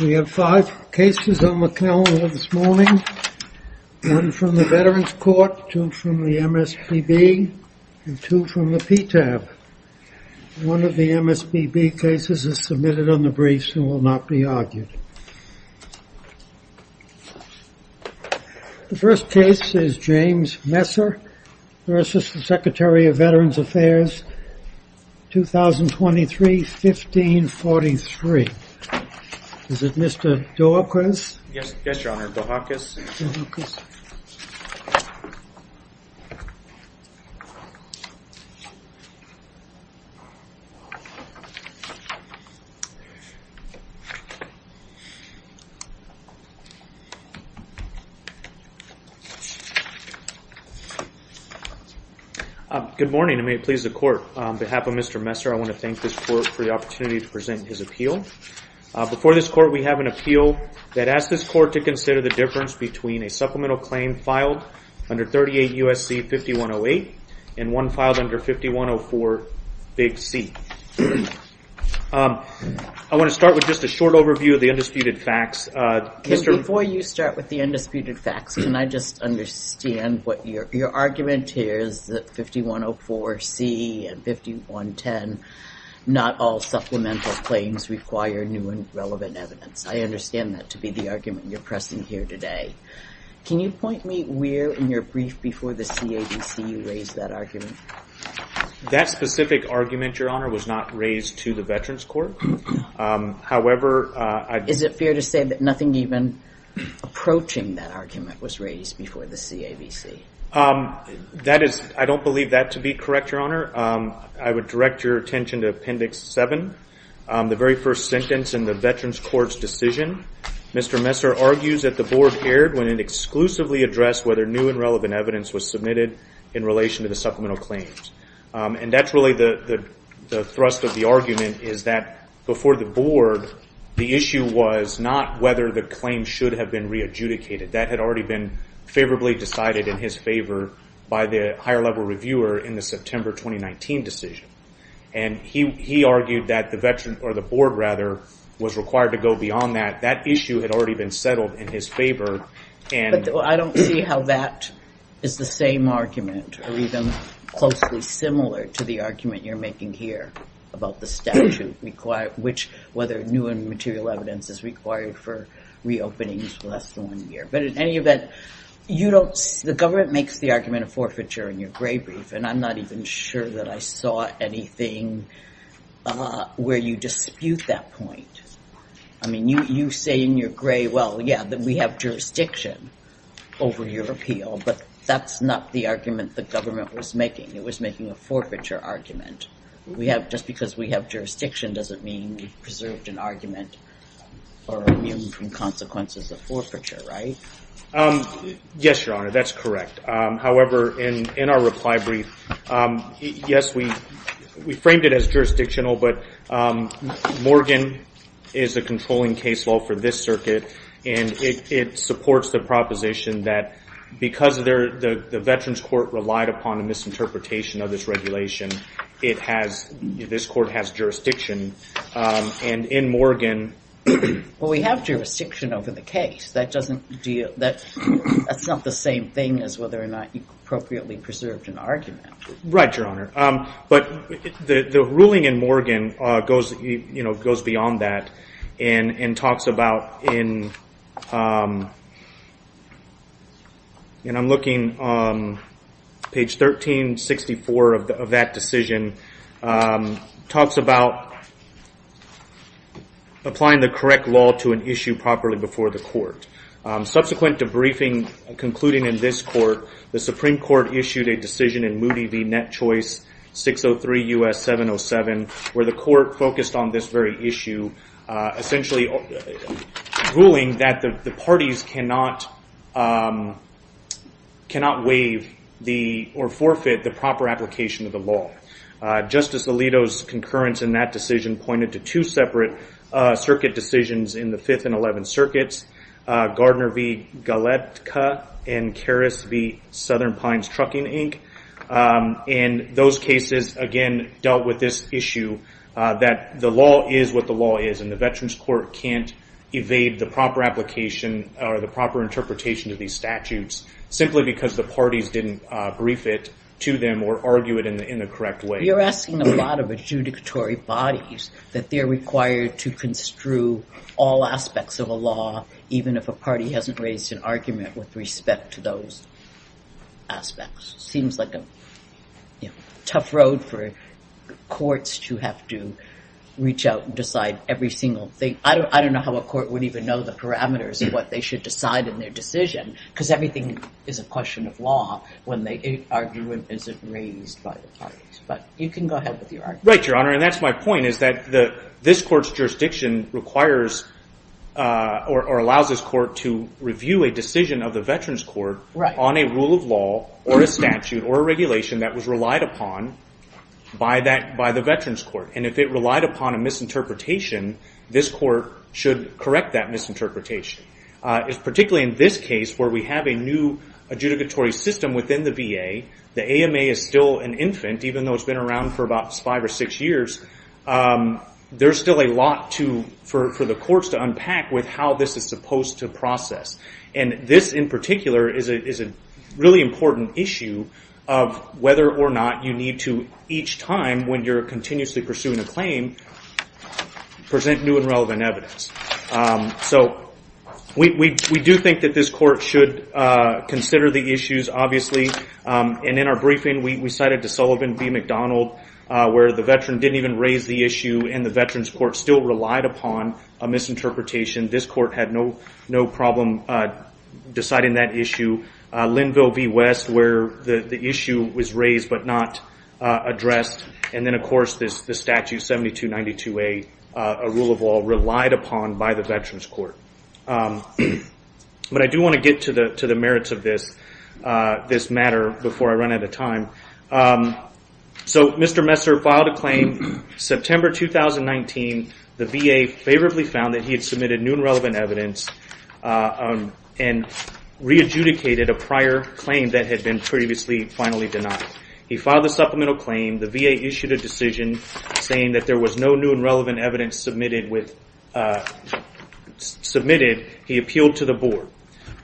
We have five cases on the calendar this morning. One from the Veterans Court, two from the MSPB, and two from the PTAB. One of the MSPB cases is submitted on the briefs and will not be argued. The first case is James Messer v. Secretary of Veterans Affairs, 2023-1543. Is it Mr. DeHakis? Yes, Your Honor, DeHakis. Good morning, and may it please the Court. On behalf of Mr. Messer, I want to thank this Court for the opportunity to present his appeal. Before this Court, we have an appeal that asks this Court to consider the difference between a supplemental claim filed under 38 U.S.C. 5108 and one filed under 5104 Big C. I want to start with just a short overview of the undisputed facts. Before you start with the undisputed facts, can I just understand what your argument is that 5104 C and 5110, not all supplemental claims require new and relevant evidence? I understand that to be the argument you're pressing here today. Can you point me where in your brief before the CAVC you raised that argument? That specific argument, Your Honor, was not raised to the Veterans Court. However, I- Is it fair to say that nothing even approaching that argument was raised before the CAVC? I don't believe that to be correct, Your Honor. I would direct your attention to Appendix 7, the very first sentence in the Veterans Court's decision. Mr. Messer argues that the Board erred when it exclusively addressed whether new and relevant evidence was submitted in relation to the supplemental claims. And that's really the thrust of the argument is that before the Board, the issue was not whether the claim should have been re-adjudicated. That had already been favorably decided in his favor by the higher-level reviewer in the September 2019 decision. And he argued that the Board was required to go beyond that. That issue had already been settled in his favor. I don't see how that is the same argument or even closely similar to the argument you're making here about the statute, which whether new and material evidence is required for re-openings for less than one year. But in any event, you don't- The government makes the argument of forfeiture in your Gray brief, and I'm not even sure that I saw anything where you dispute that point. I mean, you say in your Gray, well, yeah, that we have jurisdiction over your appeal, but that's not the argument the government was making. It was making a forfeiture argument. Just because we have jurisdiction doesn't mean we've preserved an argument or immune from consequences of forfeiture, right? Yes, Your Honor, that's correct. However, in our reply brief, yes, we framed it as jurisdictional, but Morgan is a controlling case law for this circuit, and it supports the proposition that because the Veterans Court relied upon a misinterpretation of this regulation, this court has jurisdiction. And in Morgan- Well, we have jurisdiction over the case. That's not the same thing as whether or not you appropriately preserved an argument. Right, Your Honor. But the ruling in Morgan goes beyond that and talks about in- and I'm looking on page 1364 of that decision- talks about applying the correct law to an issue properly before the court. Subsequent to briefing concluding in this court, the Supreme Court issued a decision in Moody v. Net Choice, 603 U.S. 707, where the court focused on this very issue, essentially ruling that the parties cannot waive or forfeit the proper application of the law. Justice Alito's concurrence in that decision pointed to two separate circuit decisions in the Fifth and Eleventh Circuits, Gardner v. Galetka and Karras v. Southern Pines Trucking, Inc. And those cases, again, dealt with this issue that the law is what the law is, and the Veterans Court can't evade the proper application or the proper interpretation of these statutes simply because the parties didn't brief it to them or argue it in the correct way. But you're asking a lot of adjudicatory bodies that they're required to construe all aspects of a law even if a party hasn't raised an argument with respect to those aspects. Seems like a tough road for courts to have to reach out and decide every single thing. I don't know how a court would even know the parameters of what they should decide in their decision because everything is a question of law when the argument isn't raised by the parties. But you can go ahead with your argument. Right, Your Honor, and that's my point is that this court's jurisdiction requires or allows this court to review a decision of the Veterans Court on a rule of law or a statute or a regulation that was relied upon by the Veterans Court. And if it relied upon a misinterpretation, this court should correct that misinterpretation. Particularly in this case where we have a new adjudicatory system within the VA, the AMA is still an infant even though it's been around for about five or six years, there's still a lot for the courts to unpack with how this is supposed to process. And this in particular is a really important issue of whether or not you need to each time when you're continuously pursuing a claim present new and relevant evidence. So we do think that this court should consider the issues, obviously. And in our briefing, we cited to Sullivan v. McDonald where the veteran didn't even raise the issue and the Veterans Court still relied upon a misinterpretation. This court had no problem deciding that issue. Linville v. West where the issue was raised but not addressed. And then, of course, the statute 7292A, a rule of law relied upon by the Veterans Court. But I do want to get to the merits of this matter before I run out of time. So Mr. Messer filed a claim September 2019. The VA favorably found that he had submitted new and relevant evidence and re-adjudicated a prior claim that had been previously finally denied. He filed a supplemental claim. The VA issued a decision saying that there was no new and relevant evidence submitted. He appealed to the board.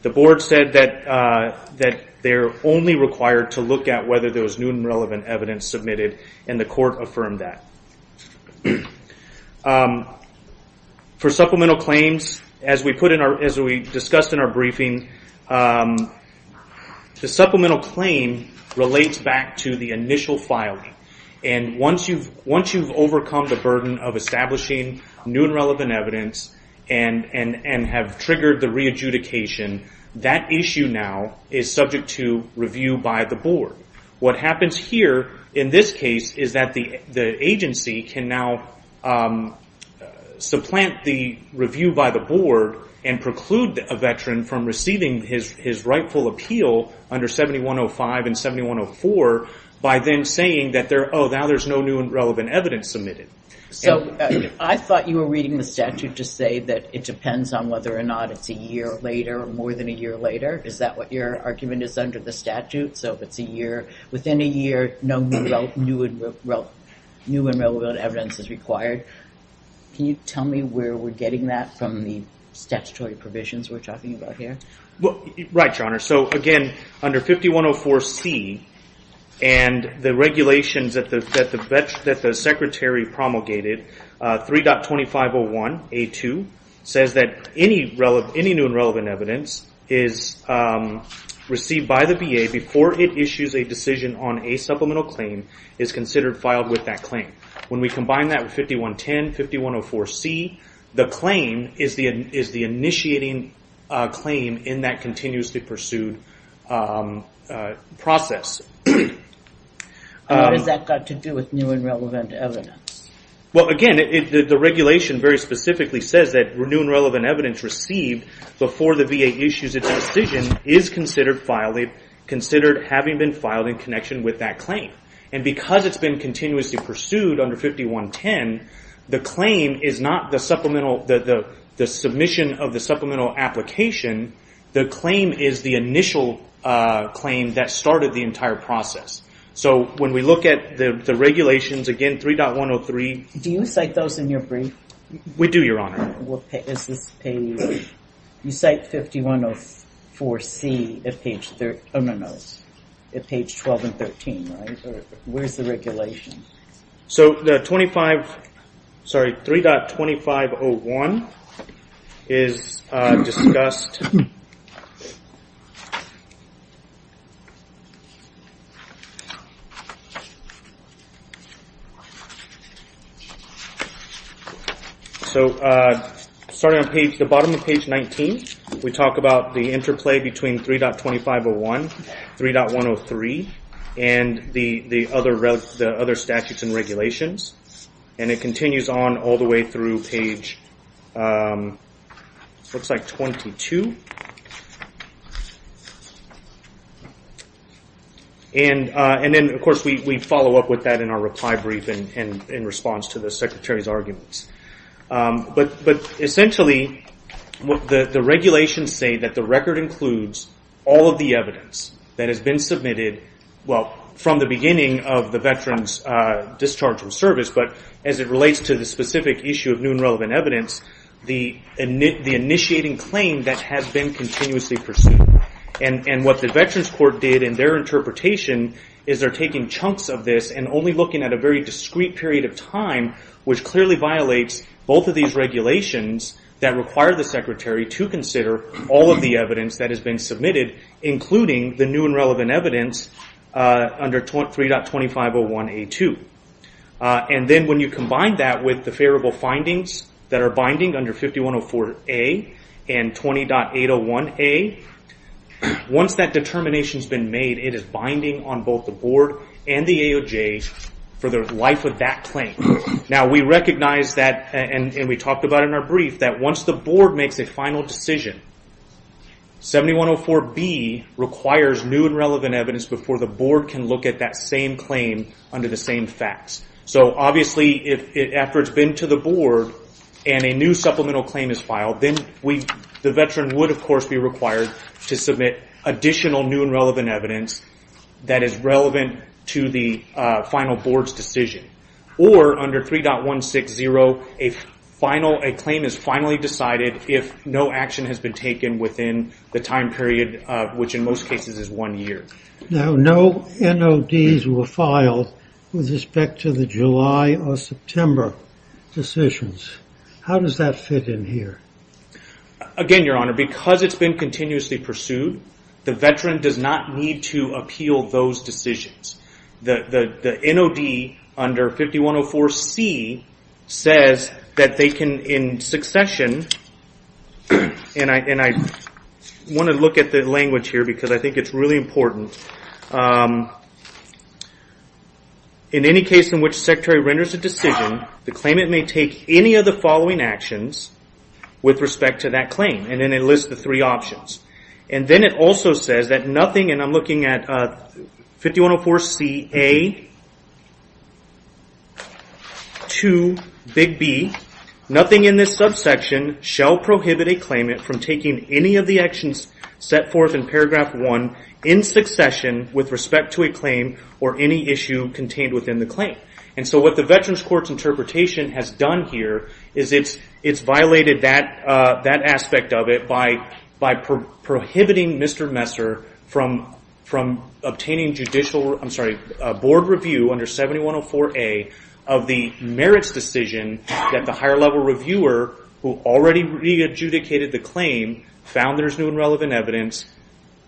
The board said that they're only required to look at whether there was new and relevant evidence submitted, and the court affirmed that. For supplemental claims, as we discussed in our briefing, the supplemental claim relates back to the initial filing. And once you've overcome the burden of establishing new and relevant evidence and have triggered the re-adjudication, that issue now is subject to review by the board. What happens here in this case is that the agency can now supplant the review by the board and preclude a veteran from receiving his rightful appeal under 7105 and 7104 by then saying that, oh, now there's no new and relevant evidence submitted. So I thought you were reading the statute to say that it depends on whether or not it's a year later or more than a year later. Is that what your argument is under the statute? So if it's a year, within a year, no new and relevant evidence is required. Can you tell me where we're getting that from the statutory provisions we're talking about here? Right, Your Honor. So again, under 5104C and the regulations that the secretary promulgated, 3.2501A2 says that any new and relevant evidence is received by the VA before it issues a decision on a supplemental claim is considered filed with that claim. When we combine that with 5110, 5104C, the claim is the initiating claim in that continuously pursued process. What has that got to do with new and relevant evidence? Well, again, the regulation very specifically says that new and relevant evidence received before the VA issues its decision is considered having been filed in connection with that claim. And because it's been continuously pursued under 5110, the claim is not the submission of the supplemental application. The claim is the initial claim that started the entire process. So when we look at the regulations, again, 3.103. Do you cite those in your brief? We do, Your Honor. You cite 5104C at page 12 and 13, right? Where's the regulation? So 3.2501 is discussed. So starting on the bottom of page 19, we talk about the interplay between 3.2501, 3.103, and the other statutes and regulations. And it continues on all the way through page 22. And then, of course, we follow up with that in our reply brief and in response to the Secretary's arguments. But essentially, the regulations say that the record includes all of the evidence that has been submitted, well, from the beginning of the veterans discharged from service, but as it relates to the specific issue of new and relevant evidence, the initiating claim that has been continuously pursued. And what the Veterans Court did in their interpretation is they're taking chunks of this and only looking at a very discrete period of time, which clearly violates both of these regulations that require the Secretary to consider all of the evidence that has been submitted, including the new and relevant evidence under 3.2501A2. And then when you combine that with the favorable findings that are binding under 5104A and 20.801A, once that determination's been made, it is binding on both the Board and the AOJ for the life of that claim. Now, we recognize that, and we talked about it in our brief, that once the Board makes a final decision, 7104B requires new and relevant evidence before the Board can look at that same claim under the same facts. So obviously, after it's been to the Board and a new supplemental claim is filed, then the veteran would, of course, be required to submit additional new and relevant evidence that is relevant to the final Board's decision. Or under 3.160, a claim is finally decided if no action has been taken within the time period, which in most cases is one year. Now, no NODs were filed with respect to the July or September decisions. How does that fit in here? Again, Your Honor, because it's been continuously pursued, the veteran does not need to appeal those decisions. The NOD under 5104C says that they can, in succession, and I want to look at the language here because I think it's really important. In any case in which the Secretary renders a decision, the claimant may take any of the following actions with respect to that claim, and then it lists the three options. And then it also says that nothing, and I'm looking at 5104Ca to Big B, nothing in this subsection shall prohibit a claimant from taking any of the actions set forth in Paragraph 1 in succession with respect to a claim or any issue contained within the claim. And so what the Veterans Court's interpretation has done here is it's violated that aspect of it by prohibiting Mr. Messer from obtaining judicial, I'm sorry, a board review under 7104A of the merits decision that the higher level reviewer, who already re-adjudicated the claim, found there's new and relevant evidence,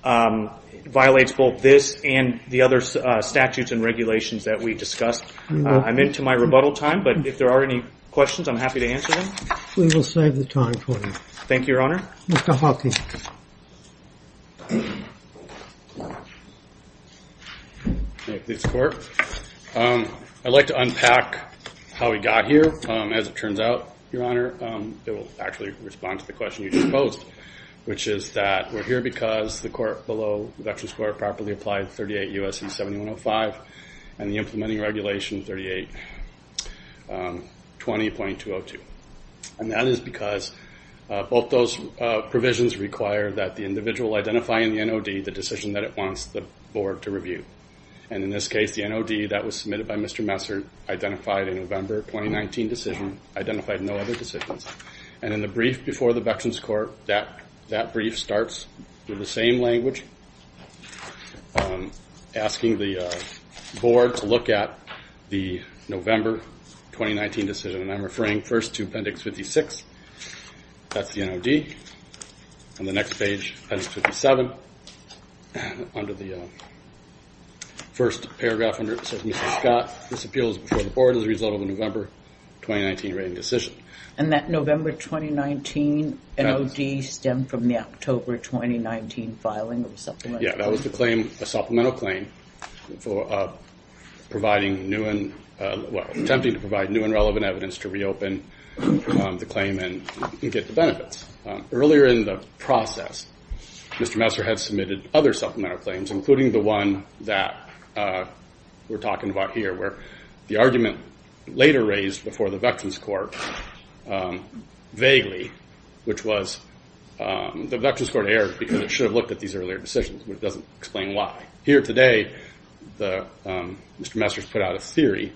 violates both this and the other statutes and regulations that we discussed. I'm into my rebuttal time, but if there are any questions, I'm happy to answer them. We will save the time for them. Thank you, Your Honor. Mr. Hawkins. Thank you, Mr. Court. I'd like to unpack how we got here. As it turns out, Your Honor, it will actually respond to the question you just posed, which is that we're here because the court below, the Veterans Court, properly applied 38 U.S.C. 7105 and the implementing regulation 3820.202. That is because both those provisions require that the individual identifying the NOD, the decision that it wants the board to review. In this case, the NOD that was submitted by Mr. Messer identified a November 2019 decision, identified no other decisions. In the brief before the Veterans Court, that brief starts with the same language, asking the board to look at the November 2019 decision. I'm referring first to Appendix 56. That's the NOD. On the next page, Appendix 57, under the first paragraph under it, says, Mr. Scott, this appeal is before the board as a result of a November 2019 rating decision. And that November 2019 NOD stemmed from the October 2019 filing of a supplemental claim. Attempting to provide new and relevant evidence to reopen the claim and get the benefits. Earlier in the process, Mr. Messer had submitted other supplemental claims, including the one that we're talking about here, where the argument later raised before the Veterans Court vaguely, which was the Veterans Court erred because it should have looked at these earlier decisions. It doesn't explain why. Here today, Mr. Messer has put out a theory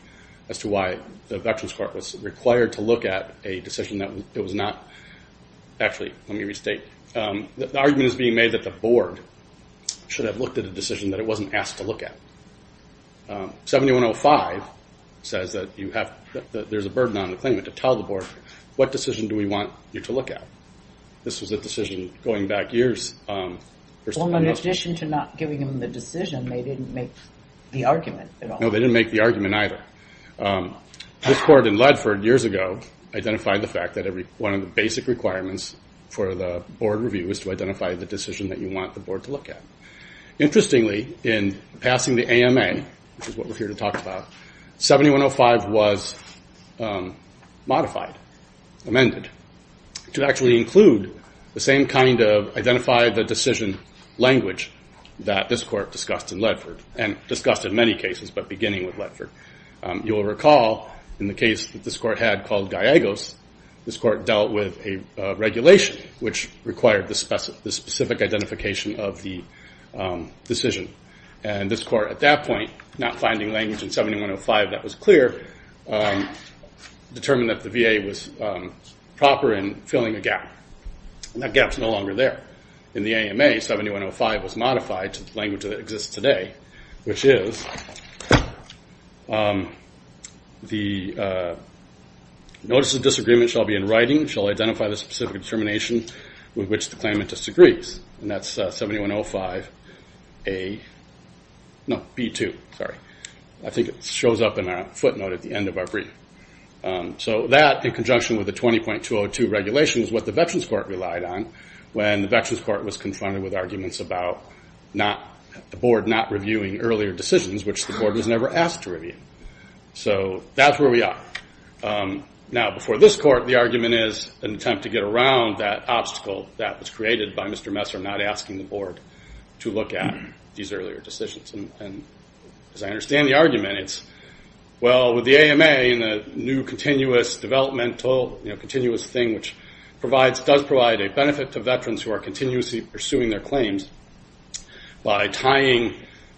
as to why the Veterans Court was required to look at a decision that it was not. Actually, let me restate. The argument is being made that the board should have looked at a decision that it wasn't asked to look at. 7105 says that there's a burden on the claimant to tell the board, what decision do we want you to look at? This was a decision going back years. Well, in addition to not giving them the decision, they didn't make the argument at all. No, they didn't make the argument either. This court in Ledford years ago identified the fact that one of the basic requirements for the board review is to identify the decision that you want the board to look at. Interestingly, in passing the AMA, which is what we're here to talk about, 7105 was modified, amended, to actually include the same kind of identify the decision language that this court discussed in Ledford and discussed in many cases, but beginning with Ledford. You will recall in the case that this court had called Gallegos, this court dealt with a regulation which required the specific identification of the decision. And this court at that point, not finding language in 7105 that was clear, determined that the VA was proper in filling a gap. That gap's no longer there. In the AMA, 7105 was modified to the language that exists today, which is the notice of disagreement shall be in writing, shall identify the specific determination with which the claimant disagrees. And that's 7105A, no, B2, sorry. I think it shows up in our footnote at the end of our brief. So that, in conjunction with the 20.202 regulation, is what the Veterans Court relied on when the Veterans Court was confronted with arguments about the board not reviewing earlier decisions, which the board was never asked to review. So that's where we are. Now, before this court, the argument is an attempt to get around that obstacle that was created by Mr. Messer not asking the board to look at these earlier decisions. And as I understand the argument, it's, well, with the AMA and the new continuous developmental, continuous thing which does provide a benefit to veterans who are continuously pursuing their claims by tying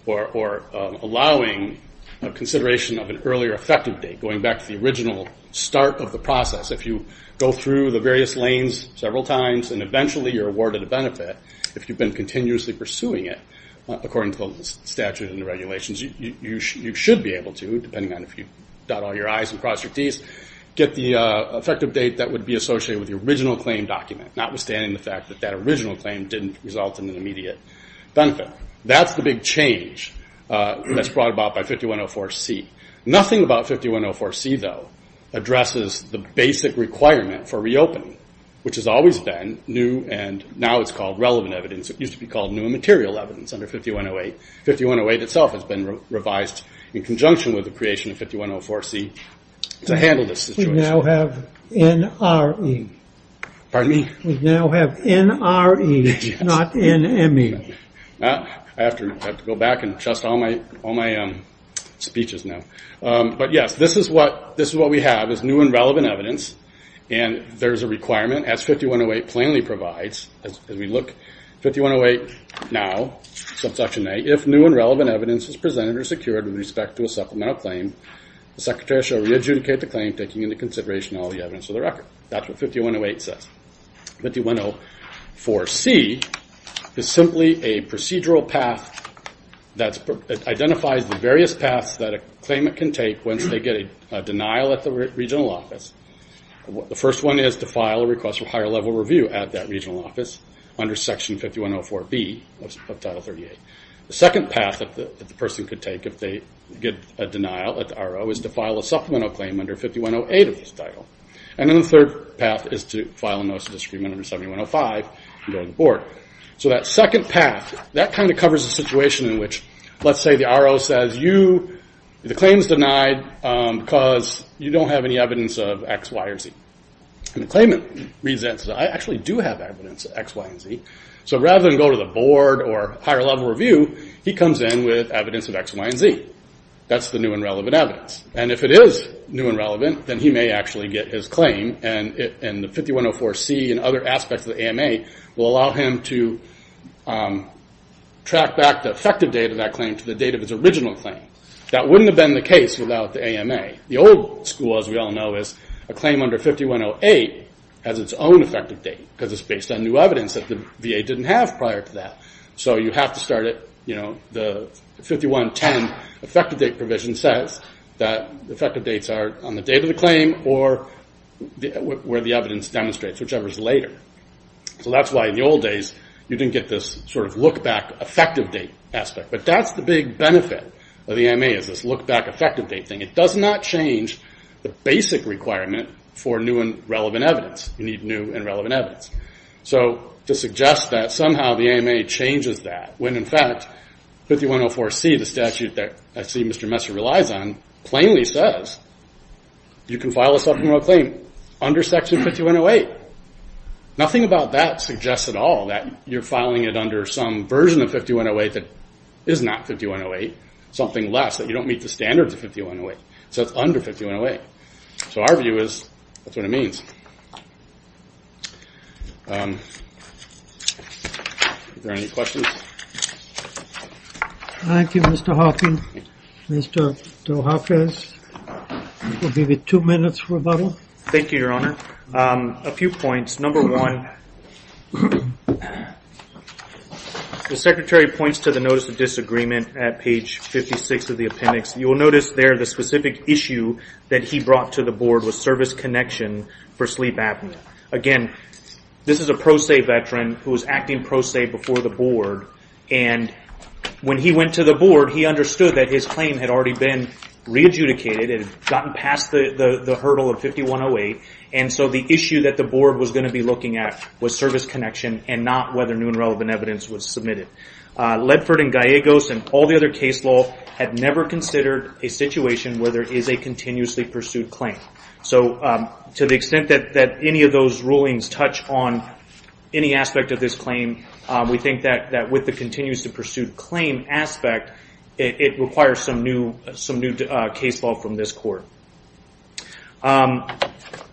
or allowing a consideration of an earlier effective date, going back to the original start of the process. If you go through the various lanes several times and eventually you're awarded a benefit, if you've been continuously pursuing it, according to the statute and the regulations, you should be able to, depending on if you dot all your I's and cross your T's, get the effective date that would be associated with the original claim document, notwithstanding the fact that that original claim didn't result in an immediate benefit. That's the big change that's brought about by 5104C. Nothing about 5104C, though, addresses the basic requirement for reopening, which has always been new and now it's called relevant evidence. It used to be called new and material evidence under 5108. 5108 itself has been revised in conjunction with the creation of 5104C to handle this situation. We now have NRE. Pardon me? We now have NRE, not NME. I have to go back and adjust all my speeches now. But yes, this is what we have is new and relevant evidence, and there's a requirement as 5108 plainly provides. As we look, 5108 now, subsection A, if new and relevant evidence is presented or secured with respect to a supplemental claim, the Secretary shall re-adjudicate the claim, taking into consideration all the evidence of the record. That's what 5108 says. 5104C is simply a procedural path that identifies the various paths that a claimant can take once they get a denial at the regional office. The first one is to file a request for higher-level review at that regional office under Section 5104B of Title 38. The second path that the person could take if they get a denial at the RO is to file a supplemental claim under 5108 of this title. And then the third path is to file a notice of disagreement under 7105 and go to the board. So that second path, that kind of covers a situation in which, let's say the RO says, the claim is denied because you don't have any evidence of X, Y, or Z. And the claimant reads that and says, I actually do have evidence of X, Y, and Z. So rather than go to the board or higher-level review, he comes in with evidence of X, Y, and Z. That's the new and relevant evidence. And if it is new and relevant, then he may actually get his claim, and the 5104C and other aspects of the AMA will allow him to track back the effective date of that claim to the date of his original claim. That wouldn't have been the case without the AMA. The old school, as we all know, is a claim under 5108 has its own effective date because it's based on new evidence that the VA didn't have prior to that. So you have to start at, you know, the 5110 effective date provision says that effective dates are on the date of the claim or where the evidence demonstrates, whichever is later. So that's why in the old days you didn't get this sort of look-back effective date aspect. But that's the big benefit of the AMA is this look-back effective date thing. It does not change the basic requirement for new and relevant evidence. You need new and relevant evidence. So to suggest that somehow the AMA changes that when, in fact, 5104C, the statute that I see Mr. Messer relies on, plainly says you can file a supplemental claim under Section 5108. Nothing about that suggests at all that you're filing it under some version of 5108 that is not 5108, something less, that you don't meet the standards of 5108. So it's under 5108. So our view is that's what it means. Are there any questions? Thank you, Mr. Hoffman. Mr. Dohofrez, we'll give you two minutes for rebuttal. Thank you, Your Honor. A few points. Number one, the Secretary points to the Notice of Disagreement at page 56 of the appendix. You will notice there the specific issue that he brought to the Board was service connection for sleep apnea. Again, this is a pro se veteran who was acting pro se before the Board. And when he went to the Board, he understood that his claim had already been re-adjudicated. It had gotten past the hurdle of 5108. And so the issue that the Board was going to be looking at was service connection and not whether new and relevant evidence was submitted. Ledford and Gallegos and all the other case law have never considered a situation where there is a continuously pursued claim. So to the extent that any of those rulings touch on any aspect of this claim, we think that with the continues to pursue claim aspect, it requires some new case law from this Court.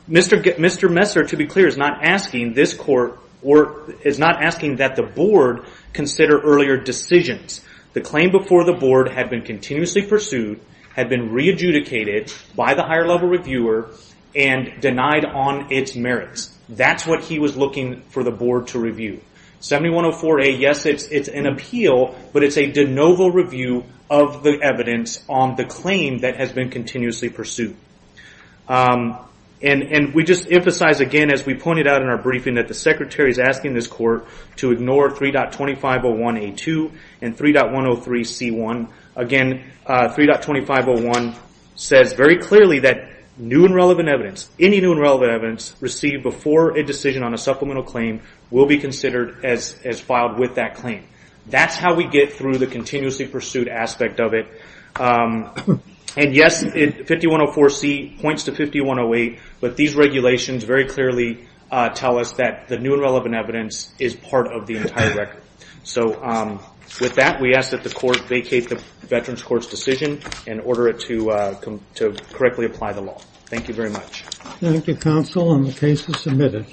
Mr. Messer, to be clear, is not asking that the Board consider earlier decisions. The claim before the Board had been continuously pursued, had been re-adjudicated by the higher level reviewer, and denied on its merits. That's what he was looking for the Board to review. 7104A, yes, it's an appeal, but it's a de novo review of the evidence on the claim that has been continuously pursued. And we just emphasize again, as we pointed out in our briefing, that the Secretary is asking this Court to ignore 3.2501A2 and 3.103C1. Again, 3.2501 says very clearly that new and relevant evidence, any new and relevant evidence received before a decision on a supplemental claim, will be considered as filed with that claim. That's how we get through the continuously pursued aspect of it. And yes, 5104C points to 5108, but these regulations very clearly tell us that the new and relevant evidence is part of the entire record. So with that, we ask that the Court vacate the Veterans Court's decision and order it to correctly apply the law. Thank you very much. Thank you, Counsel, and the case is submitted.